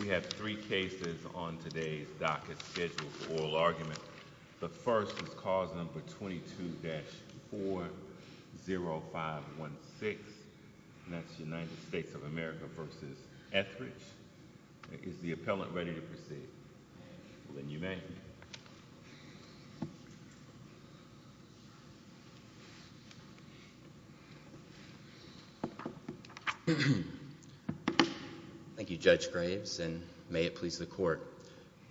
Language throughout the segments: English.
We have three cases on today's docket schedule for oral argument. The first is cause number 22-40516, and that's United States of America v. Etheridge. Is the appellant ready to proceed? Thank you, Judge Graves, and may it please the Court.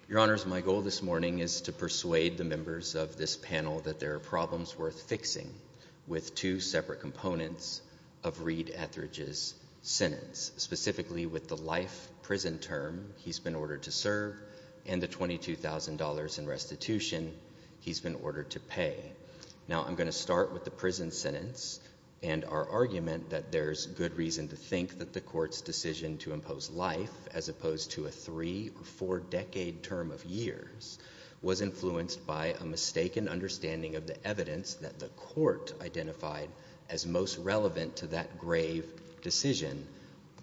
Your Honors, my goal this morning is to persuade the members of this panel that there are problems worth fixing with two separate components of Reed Etheridge's sentence, specifically with the life prison term he's been ordered to serve and the $22,000 in restitution he's been ordered to pay. Now I'm going to start with the prison sentence and our argument that there's good reason to think that the Court's decision to impose life, as opposed to a three or four-decade term of years, was influenced by a mistaken understanding of the evidence that the Court identified as most relevant to that grave decision,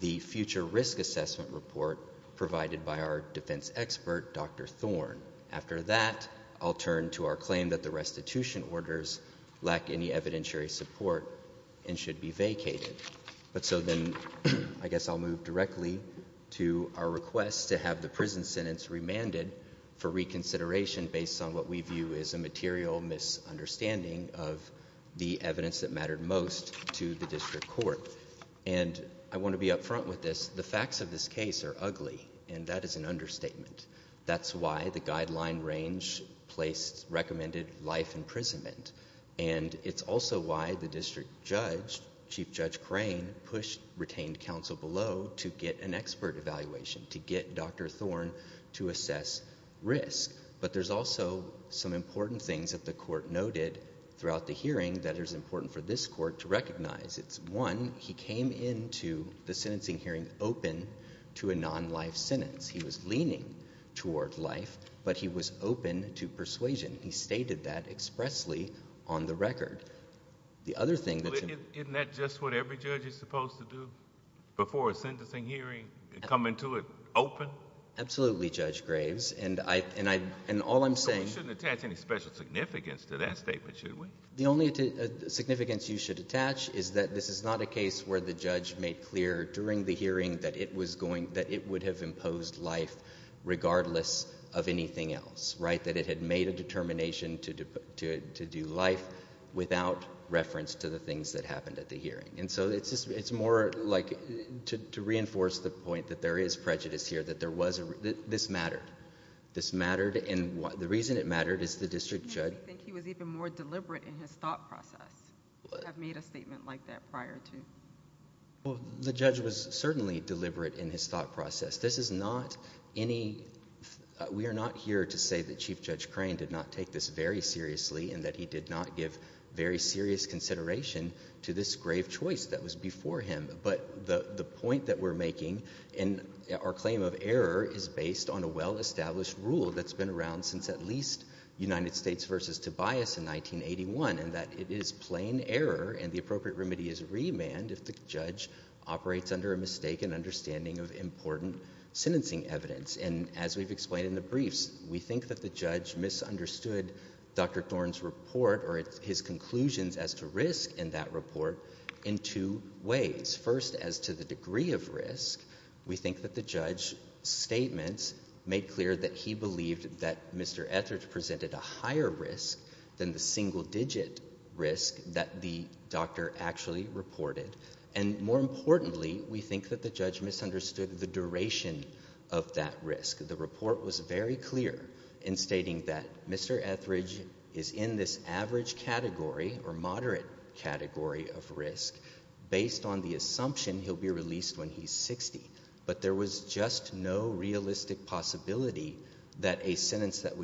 the future risk assessment report provided by our defense expert, Dr. Thorne. After that, I'll turn to our claim that the restitution orders lack any evidentiary support and should be vacated. But so then I guess I'll move directly to our request to have the prison sentence remanded for reconsideration based on what we view as a material misunderstanding of the evidence that mattered most to the District Court. And I want to be up front with this. The facts of this case are ugly, and that is an understatement. That's why the guideline range placed recommended life imprisonment. And it's also why the District Judge, Chief Judge Crane, pushed retained counsel below to get an expert evaluation, to get Dr. Thorne to assess risk. But there's also some important things that the Court noted throughout the hearing that is important for this Court to recognize. It's one, he came into the sentencing hearing open to a non-life sentence. He was leaning toward life, but he was open to persuasion. He stated that expressly on the record. The other thing that's— Isn't that just what every judge is supposed to do before a sentencing hearing, come into it open? Absolutely, Judge Graves. And all I'm saying— So we shouldn't attach any special significance to that statement, should we? The only significance you should attach is that this is not a case where the judge made clear during the hearing that it would have imposed life regardless of anything else, right? It would have imposed life without reference to the things that happened at the hearing. And so it's more like to reinforce the point that there is prejudice here, that this mattered. This mattered. And the reason it mattered is the District Judge— I think he was even more deliberate in his thought process to have made a statement like that prior to— The judge was certainly deliberate in his thought process. This is not any—we are not here to say that Chief Judge Crane did not take this very seriously and that he did not give very serious consideration to this grave choice that was before him. But the point that we're making in our claim of error is based on a well-established rule that's been around since at least United States v. Tobias in 1981, in that it is plain error and the appropriate remedy is remand if the judge operates under a mistaken understanding of important sentencing evidence. And as we've explained in the briefs, we think that the judge misunderstood Dr. Thorne's report or his conclusions as to risk in that report in two ways. First, as to the degree of risk, we think that the judge's statements made clear that he believed that Mr. Etheridge presented a higher risk than the single-digit risk that the doctor actually reported. And more importantly, we think that the judge misunderstood the duration of that risk. The report was very clear in stating that Mr. Etheridge is in this average category or moderate category of risk based on the assumption he'll be released when he's 60. But there was just no realistic possibility that a sentence that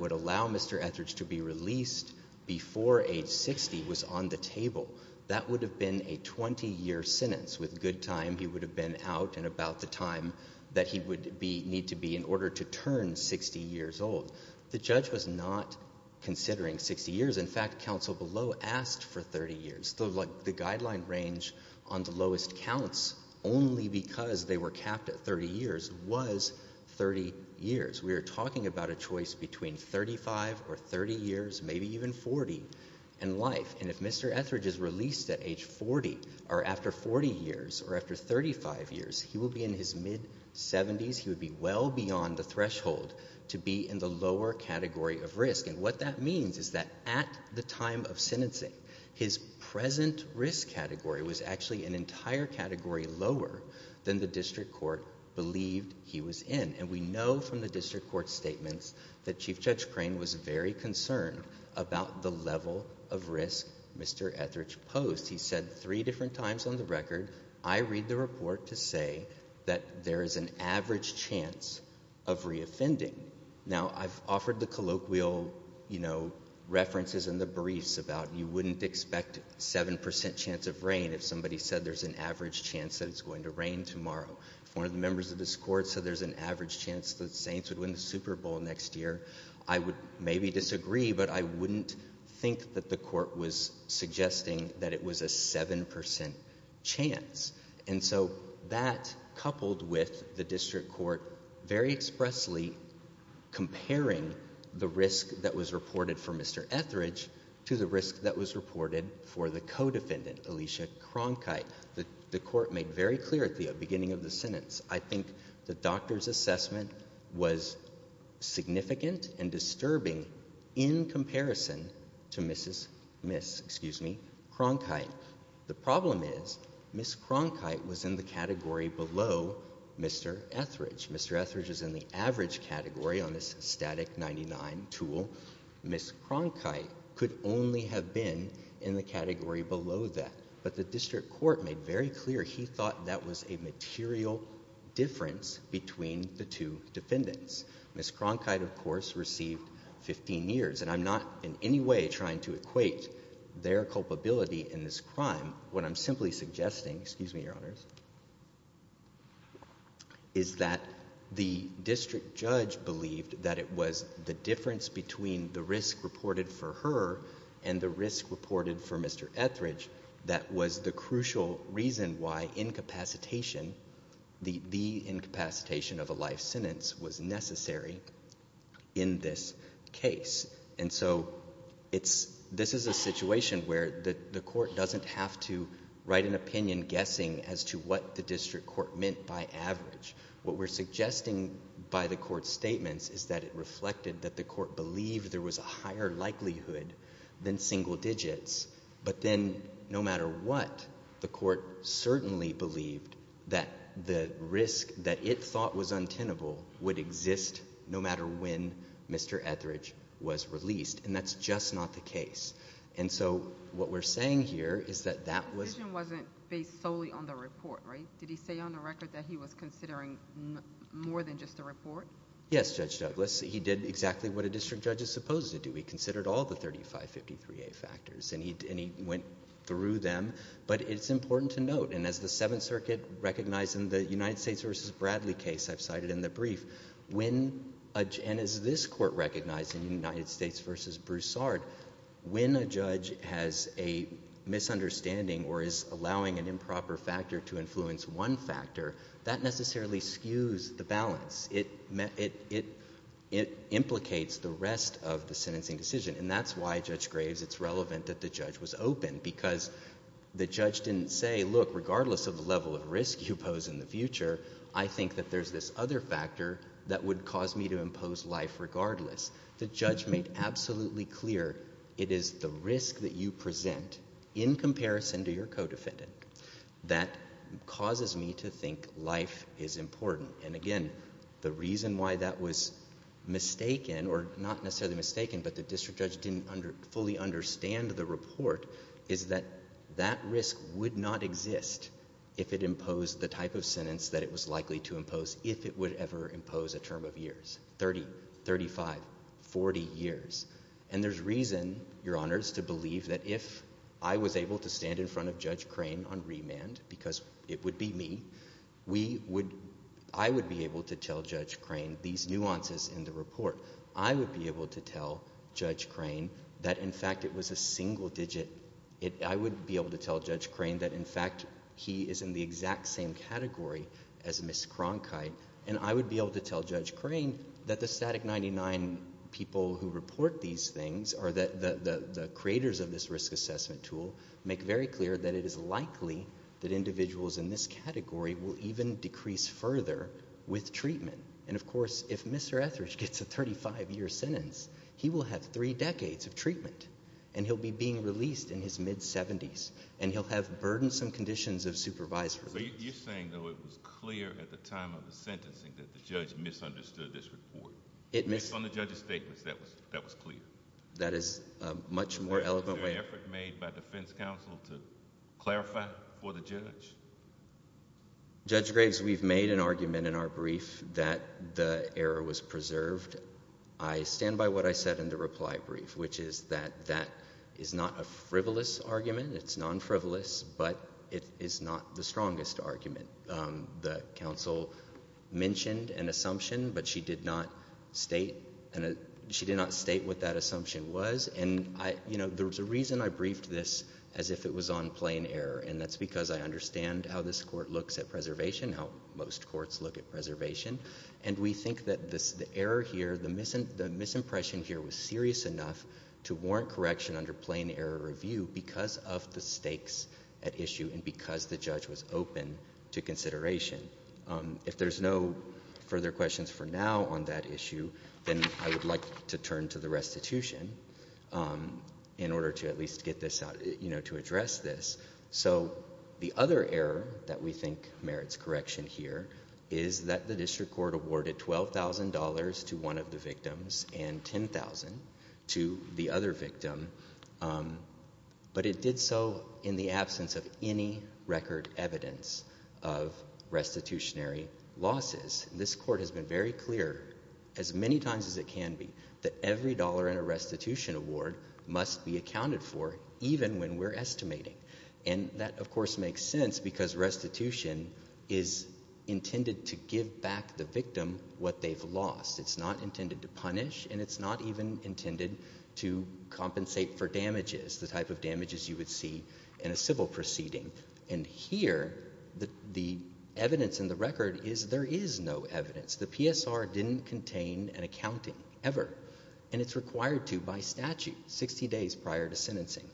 would allow Mr. Etheridge to be released before age 60 was on the table. That would have been a 20-year sentence. With good time, he would have been out in about the time that he would be need to be in order to turn 60 years old. The judge was not considering 60 years. In fact, counsel below asked for 30 years. The guideline range on the lowest counts only because they were capped at 30 years was 30 years. We are talking about a choice between 35 or 30 years, maybe even 40 in life. And if Mr. Etheridge is released at age 40 or after 40 years or after 35 years, he will be in his mid-70s, he would be well beyond the threshold to be in the lower category of risk. And what that means is that at the time of sentencing, his present risk category was actually an entire category lower than the district court believed he was in. And we know from the district court statements that Chief Judge Crane was very concerned about the level of risk Mr. Etheridge posed. He said three different times on the record, I read the report to say that there is an average chance of reoffending. Now I've offered the colloquial, you know, references in the briefs about you wouldn't expect 7% chance of rain if somebody said there's an average chance that it's going to rain tomorrow. If one of the members of this court said there's an average chance that Saints would win the case, I wouldn't think that the court was suggesting that it was a 7% chance. And so that, coupled with the district court very expressly comparing the risk that was reported for Mr. Etheridge to the risk that was reported for the co-defendant, Alicia Cronkite, the court made very clear at the beginning of the sentence. I think the doctor's assessment was significant and disturbing in comparison to Mrs. Cronkite. The problem is, Ms. Cronkite was in the category below Mr. Etheridge. Mr. Etheridge is in the average category on this static 99 tool. Ms. Cronkite could only have been in the category below that. But the district court made very clear he thought that was a material difference between the two defendants. Ms. Cronkite, of course, received 15 years, and I'm not in any way trying to equate their culpability in this crime. What I'm simply suggesting, excuse me, Your Honors, is that the district judge believed that it was the difference between the risk reported for her and the risk reported for Mr. Etheridge that was the crucial reason why incapacitation, the incapacitation of a life sentence was necessary in this case. And so it's, this is a situation where the court doesn't have to write an opinion guessing as to what the district court meant by average. What we're suggesting by the court's statements is that it reflected that the court believed that there was a higher likelihood than single digits, but then no matter what, the court certainly believed that the risk that it thought was untenable would exist no matter when Mr. Etheridge was released, and that's just not the case. And so what we're saying here is that that was... The decision wasn't based solely on the report, right? Did he say on the record that he was considering more than just the report? Yes, Judge Douglas. He did exactly what a district judge is supposed to do. He considered all the 3553A factors, and he went through them, but it's important to note, and as the Seventh Circuit recognized in the United States v. Bradley case I've cited in the brief, when a judge, and as this court recognized in United States v. Broussard, when a judge has a misunderstanding or is allowing an improper factor to influence one factor, that necessarily skews the balance. It implicates the rest of the sentencing decision, and that's why, Judge Graves, it's relevant that the judge was open because the judge didn't say, look, regardless of the level of risk you pose in the future, I think that there's this other factor that would cause me to impose life regardless. The judge made absolutely clear it is the risk that you present in comparison to your co-defendant that causes me to think life is important. And again, the reason why that was mistaken, or not necessarily mistaken, but the district judge didn't fully understand the report, is that that risk would not exist if it imposed the type of sentence that it was likely to impose if it would ever impose a term of years, 30, 35, 40 years. And there's reason, Your Honors, to believe that if I was able to stand in front of Judge I would be able to tell Judge Crane these nuances in the report. I would be able to tell Judge Crane that, in fact, it was a single digit. I would be able to tell Judge Crane that, in fact, he is in the exact same category as Ms. Cronkite. And I would be able to tell Judge Crane that the Static 99 people who report these things, or the creators of this risk assessment tool, make very clear that it is likely that individuals in this category will even decrease further with treatment. And of course, if Mr. Etheridge gets a 35-year sentence, he will have three decades of treatment, and he'll be being released in his mid-70s, and he'll have burdensome conditions of supervised release. So you're saying, though, it was clear at the time of the sentencing that the judge misunderstood this report? It missed— Based on the judge's statements, that was clear? That is a much more eloquent way— Was there an effort made by defense counsel to clarify for the judge? Judge Graves, we've made an argument in our brief that the error was preserved. I stand by what I said in the reply brief, which is that that is not a frivolous argument. It's non-frivolous, but it is not the strongest argument. The counsel mentioned an assumption, but she did not state what that assumption was. And, you know, there was a reason I briefed this as if it was on plain error, and that's because I understand how this Court looks at preservation, how most courts look at preservation. And we think that the error here, the misimpression here was serious enough to warrant correction under plain error review because of the stakes at issue and because the judge was open to consideration. If there's no further questions for now on that issue, then I would like to turn to the restitution in order to at least get this out, you know, to address this. So the other error that we think merits correction here is that the district court awarded $12,000 to one of the victims and $10,000 to the other victim, but it did so in the absence of any record evidence of restitutionary losses. This Court has been very clear as many times as it can be that every dollar in a restitution award must be accounted for even when we're estimating. And that, of course, makes sense because restitution is intended to give back the victim what they've lost. It's not intended to punish and it's not even intended to compensate for damages, the type of damages you would see in a civil proceeding. And here, the evidence in the record is there is no evidence. The PSR didn't contain an accounting ever and it's required to by statute 60 days prior to sentencing.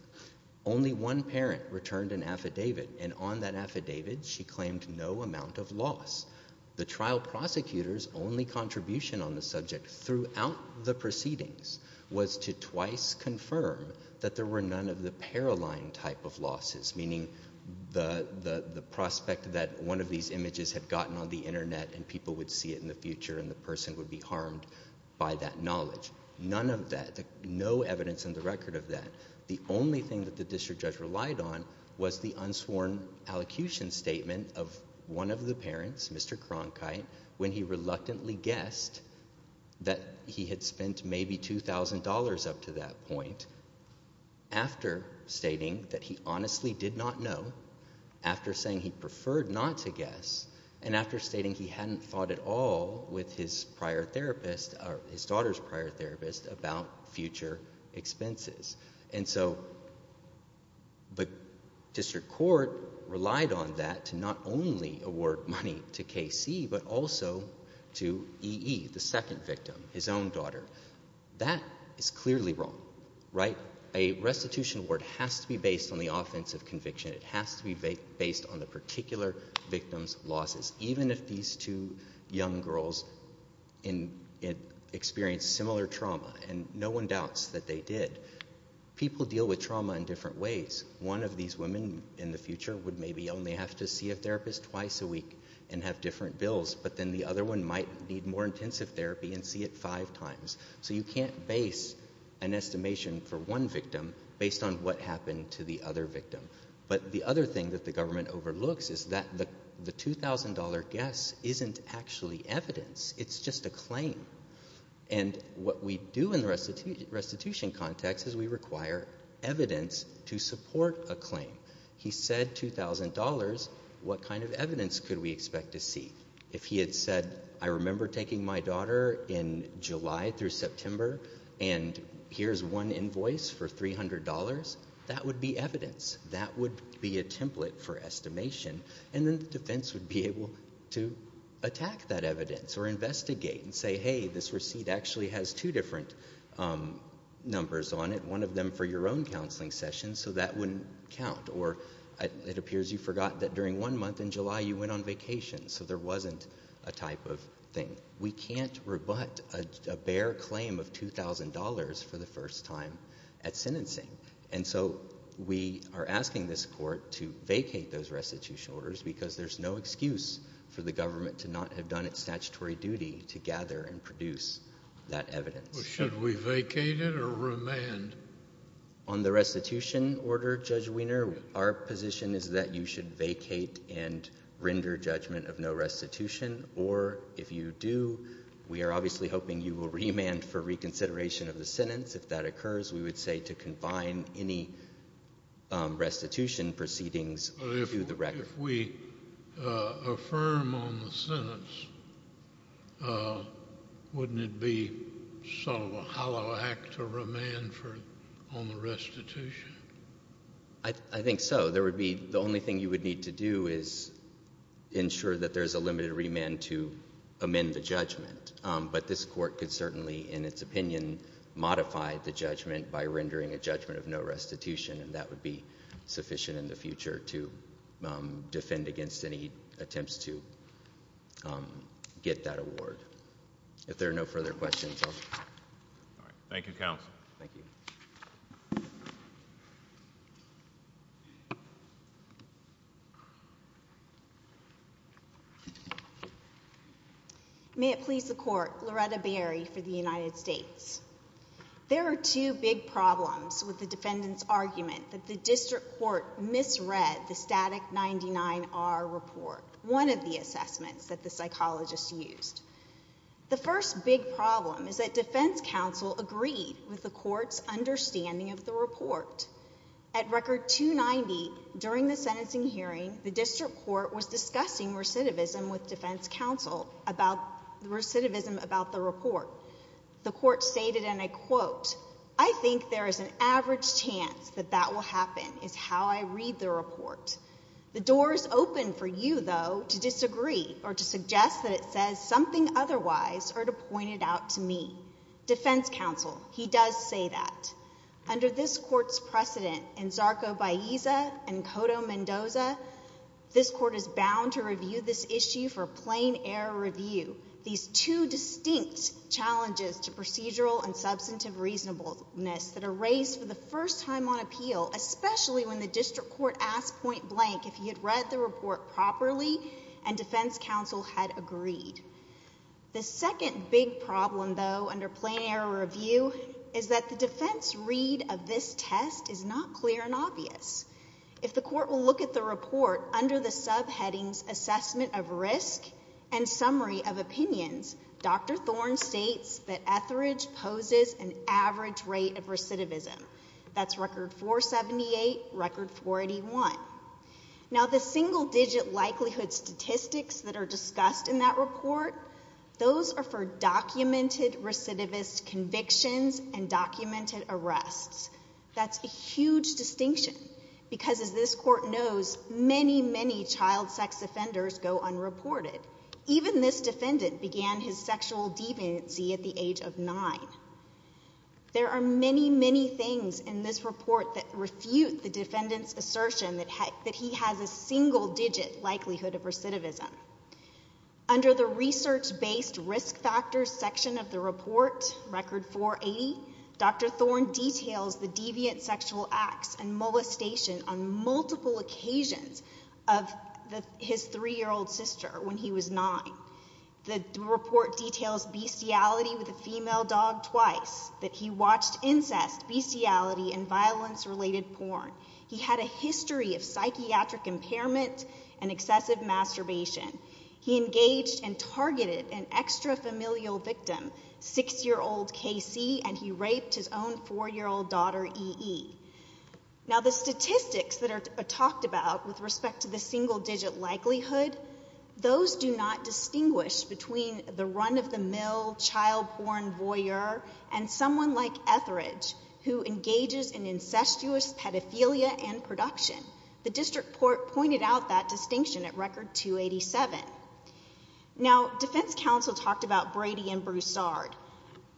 Only one parent returned an affidavit and on that affidavit she claimed no amount of loss. The trial prosecutor's only contribution on the subject throughout the proceedings was to twice confirm that there were none of the para-line type of losses, meaning the prospect that one of these images had gotten on the internet and people would see it in the future and the person would be harmed by that knowledge. None of that. No evidence in the record of that. The only thing that the district judge relied on was the unsworn allocution statement of one of the parents, Mr. Cronkite, when he reluctantly guessed that he had spent maybe $2,000 up to that point after stating that he honestly did not know, after saying he preferred not to guess, and after stating he hadn't thought at all with his prior therapist or his daughter's prior therapist about future expenses. And so the district court relied on that to not only award money to KC but also to EE, the second victim, his own daughter. That is clearly wrong, right? A restitution award has to be based on the offensive conviction. It has to be based on the particular victim's losses. Even if these two young girls experienced similar trauma, and no one doubts that they did, people deal with trauma in different ways. One of these women in the future would maybe only have to see a therapist twice a week and have different bills, but then the other one might need more intensive therapy and see it five times. So you can't base an estimation for one victim based on what happened to the other victim. But the other thing that the government overlooks is that the $2,000 guess isn't actually evidence. It's just a claim. And what we do in the restitution context is we require evidence to support a claim. He said $2,000, what kind of evidence could we expect to see? If he had said, I remember taking my daughter in July through September, and here's one invoice for $300, that would be evidence. That would be a template for estimation. And then the defense would be able to attack that evidence or investigate and say, hey, this receipt actually has two different numbers on it, one of them for your own counseling session, so that wouldn't count. Or it appears you forgot that during one month in July you went on vacation, so there wasn't a type of thing. We can't rebut a bare claim of $2,000 for the first time at sentencing. And so we are asking this court to vacate those restitution orders because there's no excuse for the government to not have done its statutory duty to gather and produce that evidence. Should we vacate it or remand? On the restitution order, Judge Wiener, our position is that you should vacate and render judgment of no restitution, or if you do, we are obviously hoping you will remand for reconsideration of the sentence. If that occurs, we would say to confine any restitution proceedings to the record. If we affirm on the sentence, wouldn't it be sort of a hollow act to remand for a judgment on the restitution? I think so. There would be, the only thing you would need to do is ensure that there's a limited remand to amend the judgment. But this court could certainly, in its opinion, modify the judgment by rendering a judgment of no restitution, and that would be sufficient in the future to defend against any attempts to get that award. Thank you, counsel. Thank you. May it please the court, Loretta Berry for the United States. There are two big problems with the defendant's argument that the district court misread the static 99-R report, one of the assessments that the psychologists used. The first big problem is that defense counsel agreed with the court's understanding of the report. At record 290, during the sentencing hearing, the district court was discussing recidivism with defense counsel, recidivism about the report. The court stated, and I quote, I think there is an average chance that that will happen is how I read the report. The door is open for you, though, to disagree or to suggest that it says something otherwise or to point it out to me. Defense counsel, he does say that. Under this court's precedent in Zarco-Baeza and Cotto-Mendoza, this court is bound to review this issue for a plain error review. These two distinct challenges to procedural and substantive reasonableness that are raised for the first time on appeal, especially when the district court asked point blank if he had read the report properly and defense counsel had agreed. The second big problem, though, under plain error review is that the defense read of this test is not clear and obvious. If the court will look at the report under the subheadings assessment of risk and summary of opinions, Dr. Thorne states that Etheridge poses an average rate of recidivism. That's record 478, record 481. Now the single digit likelihood statistics that are discussed in that report, those are for documented recidivist convictions and documented arrests. That's a huge distinction because as this court knows, many, many child sex offenders go unreported. Even this defendant began his sexual deviancy at the age of nine. There are many, many things in this report that refute the defendant's assertion that he has a single digit likelihood of recidivism. Under the research-based risk factors section of the report, record 480, Dr. Thorne details the deviant sexual acts and molestation on multiple occasions of his three-year-old sister when he was nine. The report details bestiality with a female dog twice, that he watched incest, bestiality, and violence-related porn. He had a history of psychiatric impairment and excessive masturbation. He engaged and targeted an extra-familial victim, six-year-old K.C., and he raped his own four-year-old daughter, E.E. Now the statistics that are talked about with respect to the single digit likelihood, those do not distinguish between the run-of-the-mill child porn voyeur and someone like Etheridge, who engages in incestuous pedophilia and production. The district court pointed out that distinction at record 287. Now defense counsel talked about Brady and Broussard.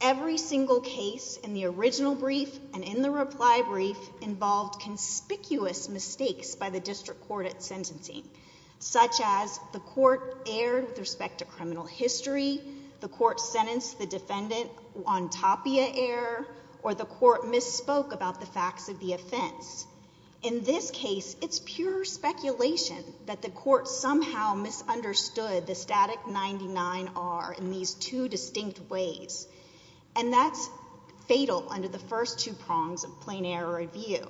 Every single case in the original brief and in the reply brief involved conspicuous mistakes by the district court at sentencing, such as the court erred with respect to criminal history, the court sentenced the defendant on top of the error, or the court misspoke about the facts of the offense. In this case, it's pure speculation that the court somehow misunderstood the static 99R in these two distinct ways. And that's fatal under the first two prongs of plain error review.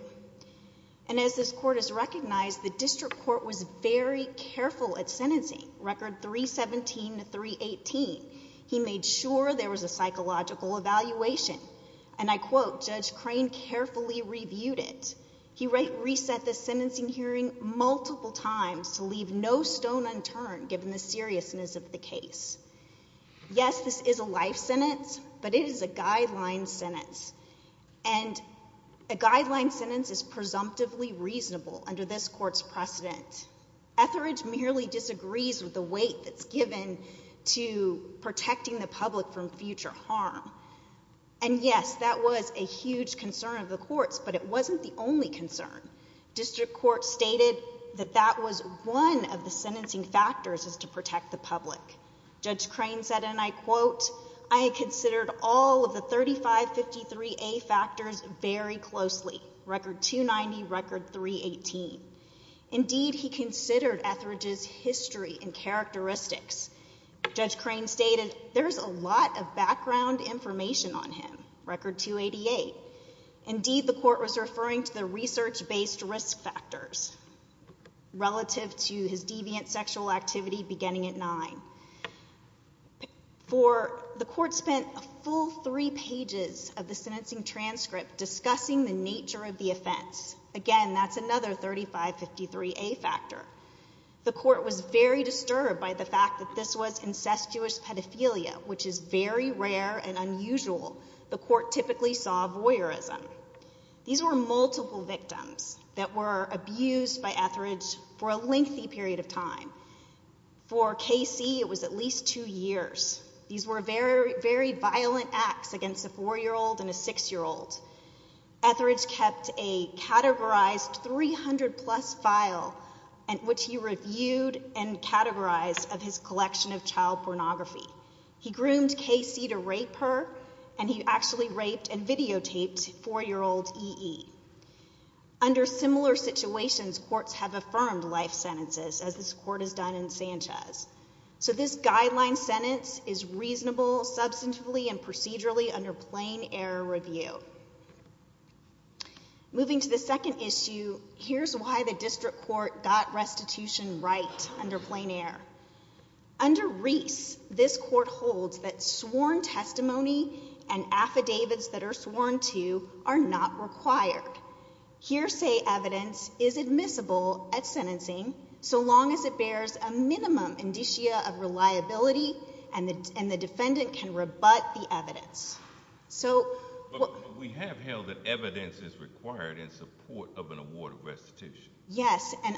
And as this court has recognized, the district court was very careful at sentencing, record 317 to 318. He made sure there was a psychological evaluation. And I quote, Judge Crane carefully reviewed it. He reset the sentencing hearing multiple times to leave no stone unturned given the seriousness of the case. Yes, this is a life sentence, but it is a guideline sentence. And a guideline sentence is presumptively reasonable under this court's precedent. Etheridge merely disagrees with the weight that's given to protecting the public from future harm. And yes, that was a huge concern of the court's, but it wasn't the only concern. District court stated that that was one of the sentencing factors is to protect the public. Judge Crane said, and I quote, I had considered all of the 3553A factors very closely. Record 290, record 318. Indeed, he considered Etheridge's history and characteristics. Judge Crane stated, there's a lot of background information on him. Record 288. Indeed, the court was referring to the research-based risk factors relative to his deviant sexual activity beginning at 9. For the court spent a full three pages of the sentencing transcript discussing the nature of the offense. Again, that's another 3553A factor. The court was very disturbed by the fact that this was incestuous pedophilia, which is very These were multiple victims that were abused by Etheridge for a lengthy period of time. For Casey, it was at least two years. These were very, very violent acts against a four-year-old and a six-year-old. Etheridge kept a categorized 300 plus file, which he reviewed and categorized of his collection of child pornography. He groomed Casey to rape her, and he actually raped and videotaped four-year-old E.E. Under similar situations, courts have affirmed life sentences as this court has done in Sanchez. So this guideline sentence is reasonable, substantively and procedurally under plain error review. Moving to the second issue, here's why the district court got restitution right under plain error. Under Reese, this court holds that sworn testimony and affidavits that are sworn to are not required. Hearsay evidence is admissible at sentencing so long as it bears a minimum indicia of reliability and the defendant can rebut the evidence. So we have held that evidence is required in support of an award of restitution. Yes. What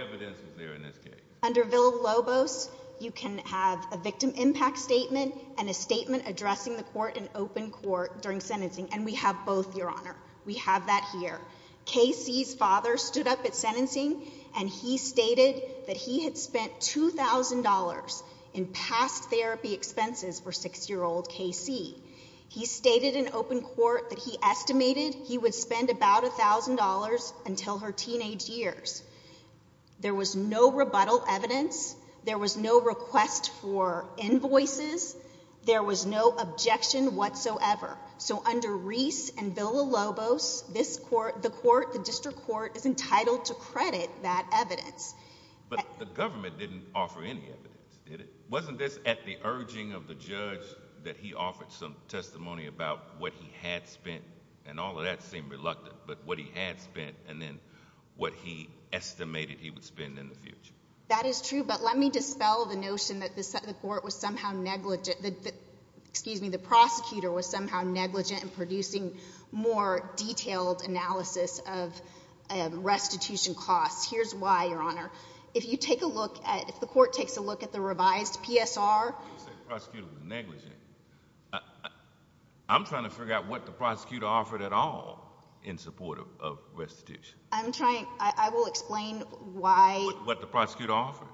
evidence is there in this case? Under Villa-Lobos, you can have a victim impact statement and a statement addressing the court in open court during sentencing, and we have both, Your Honor. We have that here. Casey's father stood up at sentencing, and he stated that he had spent $2,000 in past therapy expenses for six-year-old Casey. He stated in open court that he estimated he would spend about $1,000 until her teenage years. There was no rebuttal evidence. There was no request for invoices. There was no objection whatsoever. So under Reese and Villa-Lobos, the court, the district court, is entitled to credit that evidence. But the government didn't offer any evidence, did it? Wasn't this at the urging of the judge that he offered some testimony about what he had spent and then what he estimated he would spend in the future? That is true. But let me dispel the notion that the court was somehow negligent—excuse me, the prosecutor was somehow negligent in producing more detailed analysis of restitution costs. Here's why, Your Honor. If you take a look at—if the court takes a look at the revised PSR— You said the prosecutor was negligent. I'm trying to figure out what the prosecutor offered at all in support of restitution. I'm trying—I will explain why— What the prosecutor offered?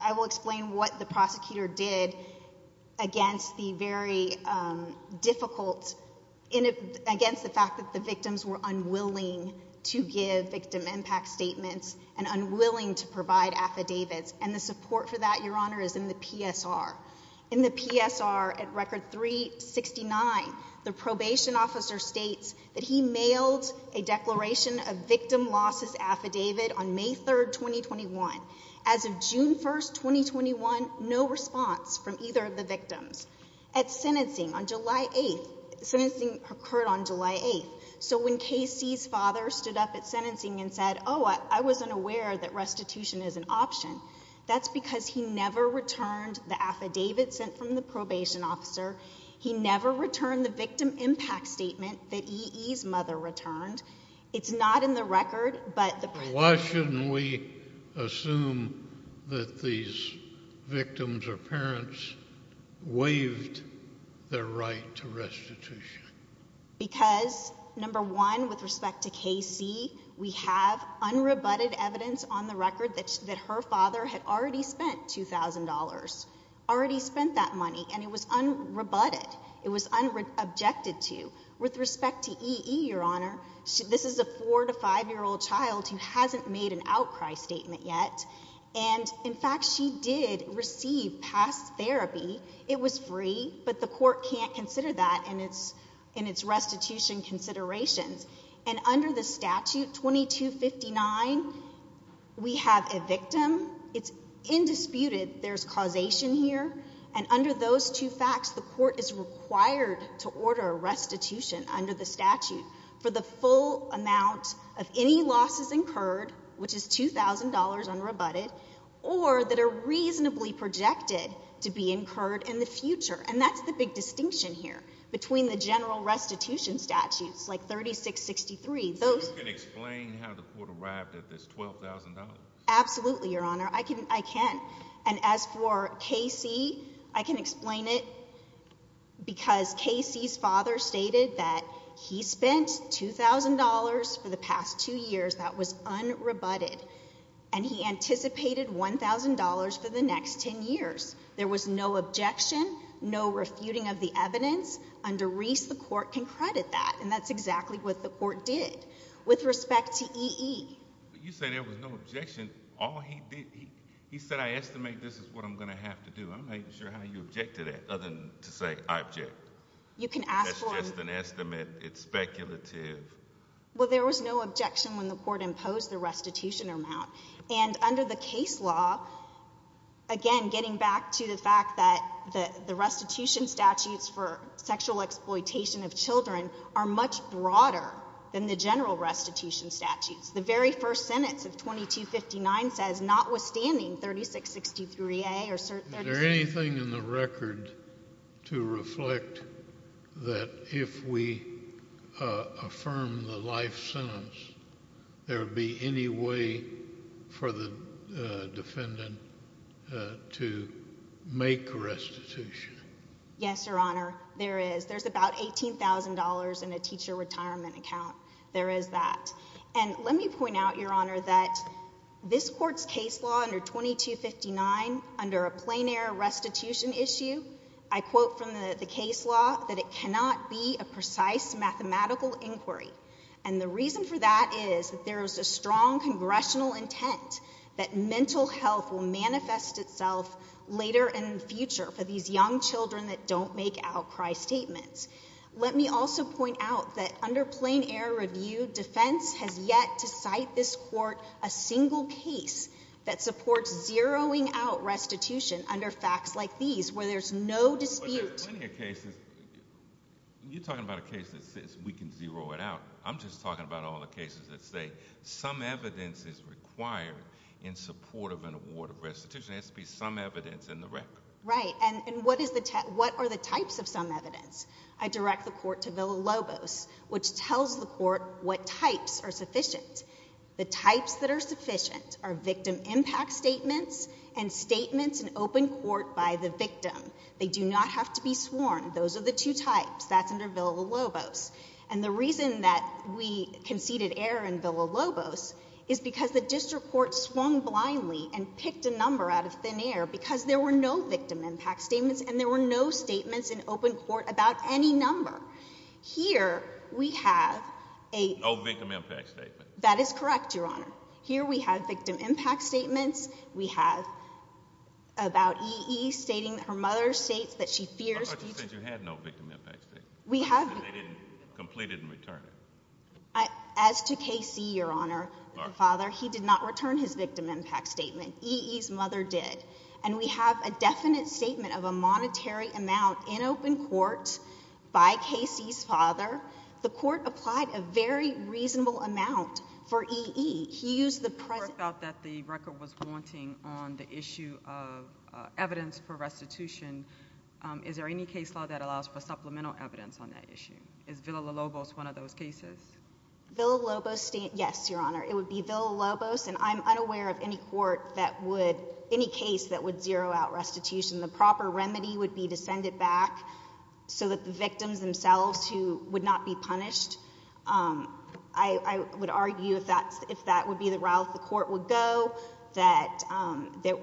I will explain what the prosecutor did against the very difficult—against the fact that the victims were unwilling to give victim impact statements and unwilling to provide affidavits. And the support for that, Your Honor, is in the PSR. In the PSR, at Record 369, the probation officer states that he mailed a declaration of victim losses affidavit on May 3rd, 2021. As of June 1st, 2021, no response from either of the victims. At sentencing on July 8th—sentencing occurred on July 8th. So when K.C.'s father stood up at sentencing and said, oh, I wasn't aware that restitution is an option, that's because he never returned the affidavit sent from the probation officer. He never returned the victim impact statement that E.E.'s mother returned. It's not in the record, but the— Why shouldn't we assume that these victims or parents waived their right to restitution? Because, number one, with respect to K.C., we have unrebutted evidence on the record that her father had already spent $2,000, already spent that money, and it was unrebutted. It was unobjected to. With respect to E.E., Your Honor, this is a 4- to 5-year-old child who hasn't made an outcry statement yet, and, in fact, she did receive past therapy. It was free, but the court can't consider that in its restitution considerations. And under the statute, 2259, we have a victim. It's indisputed there's causation here. And under those two facts, the court is required to order a restitution under the statute for the full amount of any losses incurred, which is $2,000 unrebutted, or that are reasonably projected to be incurred in the future. And that's the big distinction here between the general restitution statutes, like 3663. Those— So you can explain how the court arrived at this $12,000? Absolutely, Your Honor, I can. And as for K.C., I can explain it because K.C.'s father stated that he spent $2,000 for the past two years that was unrebutted, and he anticipated $1,000 for the next 10 years. There was no objection, no refuting of the evidence. Under Reese, the court can credit that, and that's exactly what the court did. With respect to E.E.— But you said there was no objection. All he did—he said, I estimate this is what I'm going to have to do. I'm not even sure how you object to that, other than to say, I object. You can ask for— That's just an estimate. It's speculative. Well, there was no objection when the court imposed the restitution amount. And under the case law, again, getting back to the fact that the restitution statutes for sexual exploitation of children are much broader than the general restitution statutes. The very first sentence of 2259 says, notwithstanding 3663A or 3663— Is there anything in the record to reflect that if we affirm the life sentence, there would be any way for the defendant to make restitution? Yes, Your Honor. There is. There's about $18,000 in a teacher retirement account. There is that. And let me point out, Your Honor, that this Court's case law under 2259, under a plain-error restitution issue, I quote from the case law that it cannot be a precise mathematical inquiry. And the reason for that is that there is a strong congressional intent that mental health will manifest itself later in the future for these young children that don't make outcry statements. Let me also point out that under plain-error review, defense has yet to cite this Court a single case that supports zeroing out restitution under facts like these, where there's no dispute— But there's plenty of cases—you're talking about a case that says we can zero it out. I'm just talking about all the cases that say some evidence is required in support of an award of restitution. There has to be some evidence in the record. Right. And what are the types of some evidence? I direct the Court to Villa-Lobos, which tells the Court what types are sufficient. The types that are sufficient are victim impact statements and statements in open court by the victim. They do not have to be sworn. Those are the two types. That's under Villa-Lobos. And the reason that we conceded error in Villa-Lobos is because the district court swung blindly and picked a number out of thin air because there were no victim impact statements and there were no statements in open court about any number. Here we have a— No victim impact statement. That is correct, Your Honor. Here we have victim impact statements. We have about E.E. stating that her mother states that she fears— I thought you said you had no victim impact statement. We have— And they didn't complete it and return it. As to K.C., Your Honor, the father, he did not return his victim impact statement. E.E.'s mother did. And we have a definite statement of a monetary amount in open court by K.C.'s father. The Court applied a very reasonable amount for E.E. He used the present— The Court felt that the record was wanting on the issue of evidence for restitution. Is there any case law that allows for supplemental evidence on that issue? Is Villa-Lobos one of those cases? Villa-Lobos, yes, Your Honor. It would be Villa-Lobos. And I'm unaware of any court that would—any case that would zero out restitution. The proper remedy would be to send it back so that the victims themselves who would not be punished—I would argue if that would be the route the Court would go, that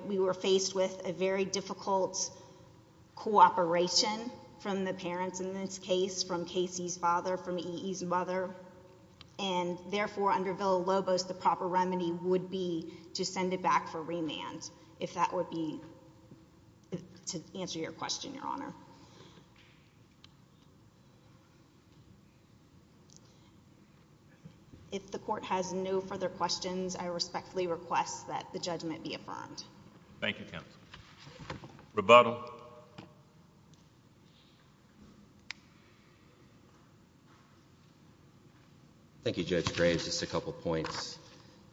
we were K.C.'s father from E.E.'s mother. And therefore, under Villa-Lobos, the proper remedy would be to send it back for remand, if that would be—to answer your question, Your Honor. If the Court has no further questions, I respectfully request that the judgment be affirmed. Thank you, counsel. Rebuttal. Thank you, Judge Graves. Just a couple points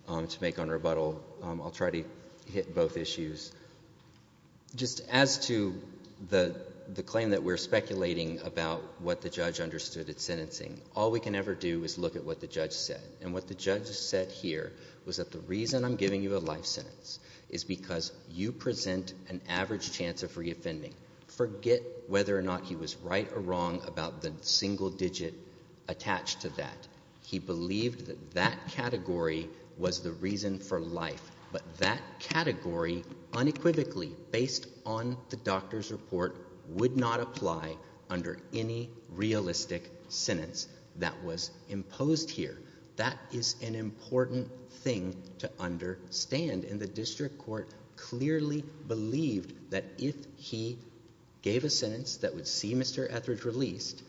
to make on rebuttal. I'll try to hit both issues. Just as to the claim that we're speculating about what the judge understood at sentencing, all we can ever do is look at what the judge said. And what the judge said here was that the reason I'm giving you a life sentence is because you present an average chance of reoffending. Forget whether or not he was right or wrong about the single digit attached to that. He believed that that category was the reason for life. But that category, unequivocally, based on the doctor's report, would not apply under any realistic sentence that was imposed here. That is an important thing to understand. And the district court clearly believed that if he gave a sentence that would see Mr. Etheridge released,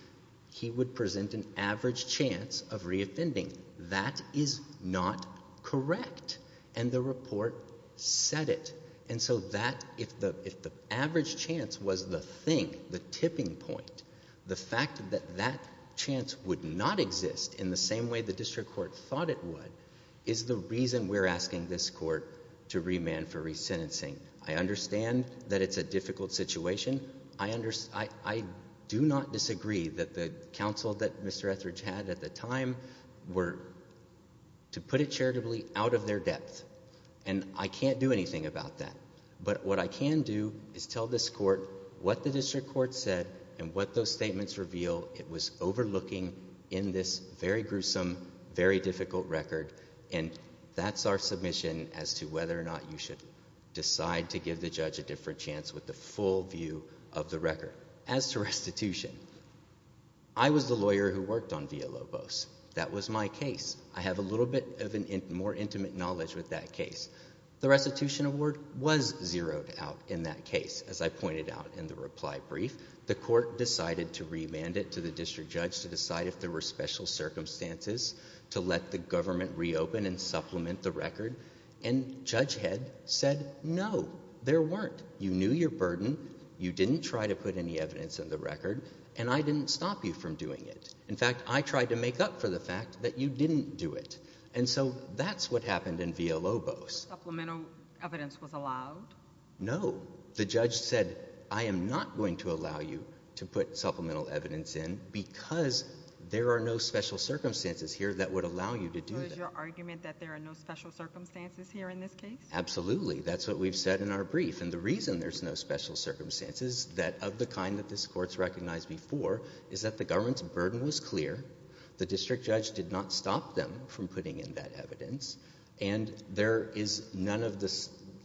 he would present an average chance of reoffending. That is not correct. And the report said it. And so that—if the average chance was the thing, the tipping point, the fact that that would not exist in the same way the district court thought it would is the reason we're asking this court to remand for resentencing. I understand that it's a difficult situation. I do not disagree that the counsel that Mr. Etheridge had at the time were to put it charitably out of their depth. And I can't do anything about that. But what I can do is tell this court what the district court said and what those statements reveal. It was overlooking in this very gruesome, very difficult record. And that's our submission as to whether or not you should decide to give the judge a different chance with the full view of the record. As to restitution, I was the lawyer who worked on Villalobos. That was my case. I have a little bit of a more intimate knowledge with that case. The restitution award was zeroed out in that case, as I pointed out in the reply brief. The court decided to remand it to the district judge to decide if there were special circumstances to let the government reopen and supplement the record. And Judge Head said, no, there weren't. You knew your burden. You didn't try to put any evidence in the record. And I didn't stop you from doing it. In fact, I tried to make up for the fact that you didn't do it. And so that's what happened in Villalobos. Supplemental evidence was allowed? No. The judge said, I am not going to allow you to put supplemental evidence in because there are no special circumstances here that would allow you to do that. So is your argument that there are no special circumstances here in this case? Absolutely. That's what we've said in our brief. And the reason there's no special circumstances that of the kind that this court's recognized before is that the government's burden was clear. The district judge did not stop them from putting in that evidence. And there is none of the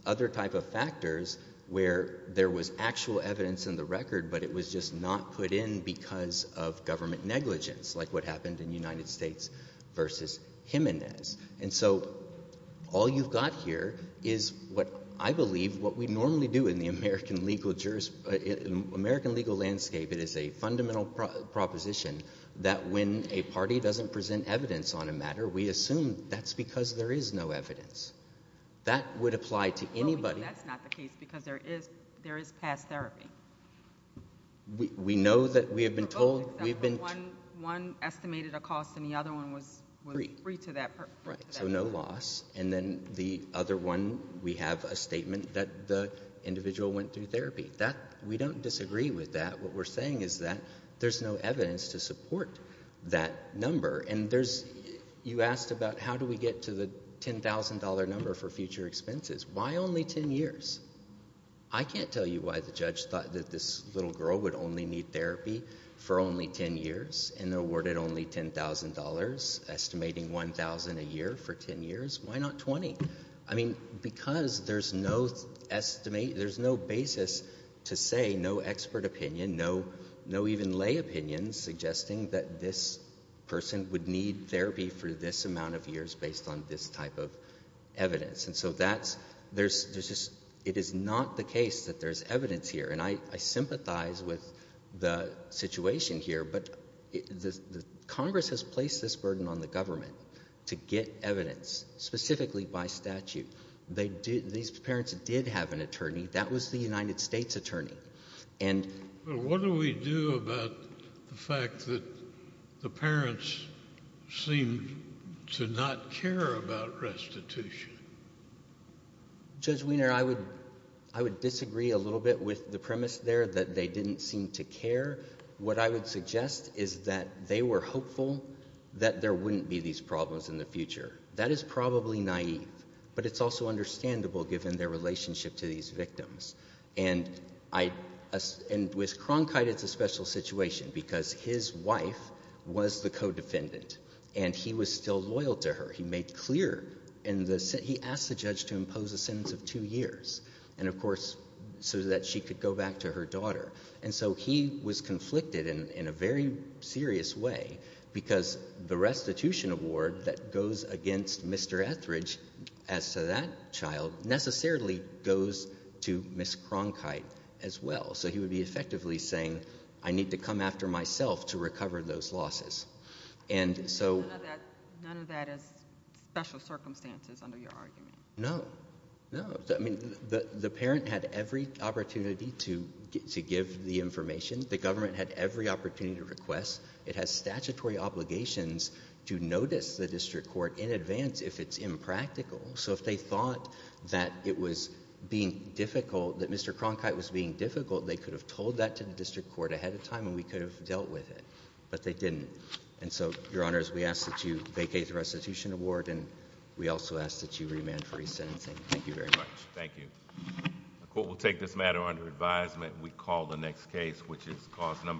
other type of factors where there was actual evidence in the record, but it was just not put in because of government negligence, like what happened in United States versus Jimenez. And so all you've got here is what I believe, what we normally do in the American legal jurist, American legal landscape, it is a fundamental proposition that when a party doesn't present evidence on a matter, we assume that's because there is no evidence. That would apply to anybody. But we know that's not the case because there is past therapy. We know that we have been told. One estimated a cost and the other one was free to that purpose. Right. So no loss. And then the other one, we have a statement that the individual went through therapy. We don't disagree with that. What we're saying is that there's no evidence to support that number. And there's, you asked about how do we get to the $10,000 number for future expenses? Why only 10 years? I can't tell you why the judge thought that this little girl would only need therapy for only 10 years and awarded only $10,000, estimating 1,000 a year for 10 years. Why not 20? I mean, because there's no estimate, there's no basis to say no expert opinion, no even lay opinion suggesting that this person would need therapy for this amount of years based on this type of evidence. And so that's, there's just, it is not the case that there's evidence here. And I sympathize with the situation here, but the Congress has placed this burden on the government to get evidence specifically by statute. They did, these parents did have an attorney that was the United States attorney. And what do we do about the fact that the parents seem to not care about restitution? Judge Wiener, I would, I would disagree a little bit with the premise there that they didn't seem to care. What I would suggest is that they were hopeful that there wouldn't be these problems in the future. That is probably naive, but it's also understandable given their relationship to these victims. And I, and with Cronkite, it's a special situation because his wife was the co-defendant and he was still loyal to her. He made clear in the, he asked the judge to impose a sentence of two years. And so he was conflicted in a very serious way because the restitution award that goes against Mr. Etheridge as to that child necessarily goes to Ms. Cronkite as well. So he would be effectively saying, I need to come after myself to recover those losses. And so. None of that is special circumstances under your argument. No, no. First, I mean, the parent had every opportunity to give the information. The government had every opportunity to request. It has statutory obligations to notice the district court in advance if it's impractical. So if they thought that it was being difficult, that Mr. Cronkite was being difficult, they could have told that to the district court ahead of time and we could have dealt with it. But they didn't. And so, Your Honors, we ask that you vacate the restitution award and we also ask that you remand for resentencing. Thank you very much. Thank you. The court will take this matter under advisement. We call the next case which is cause number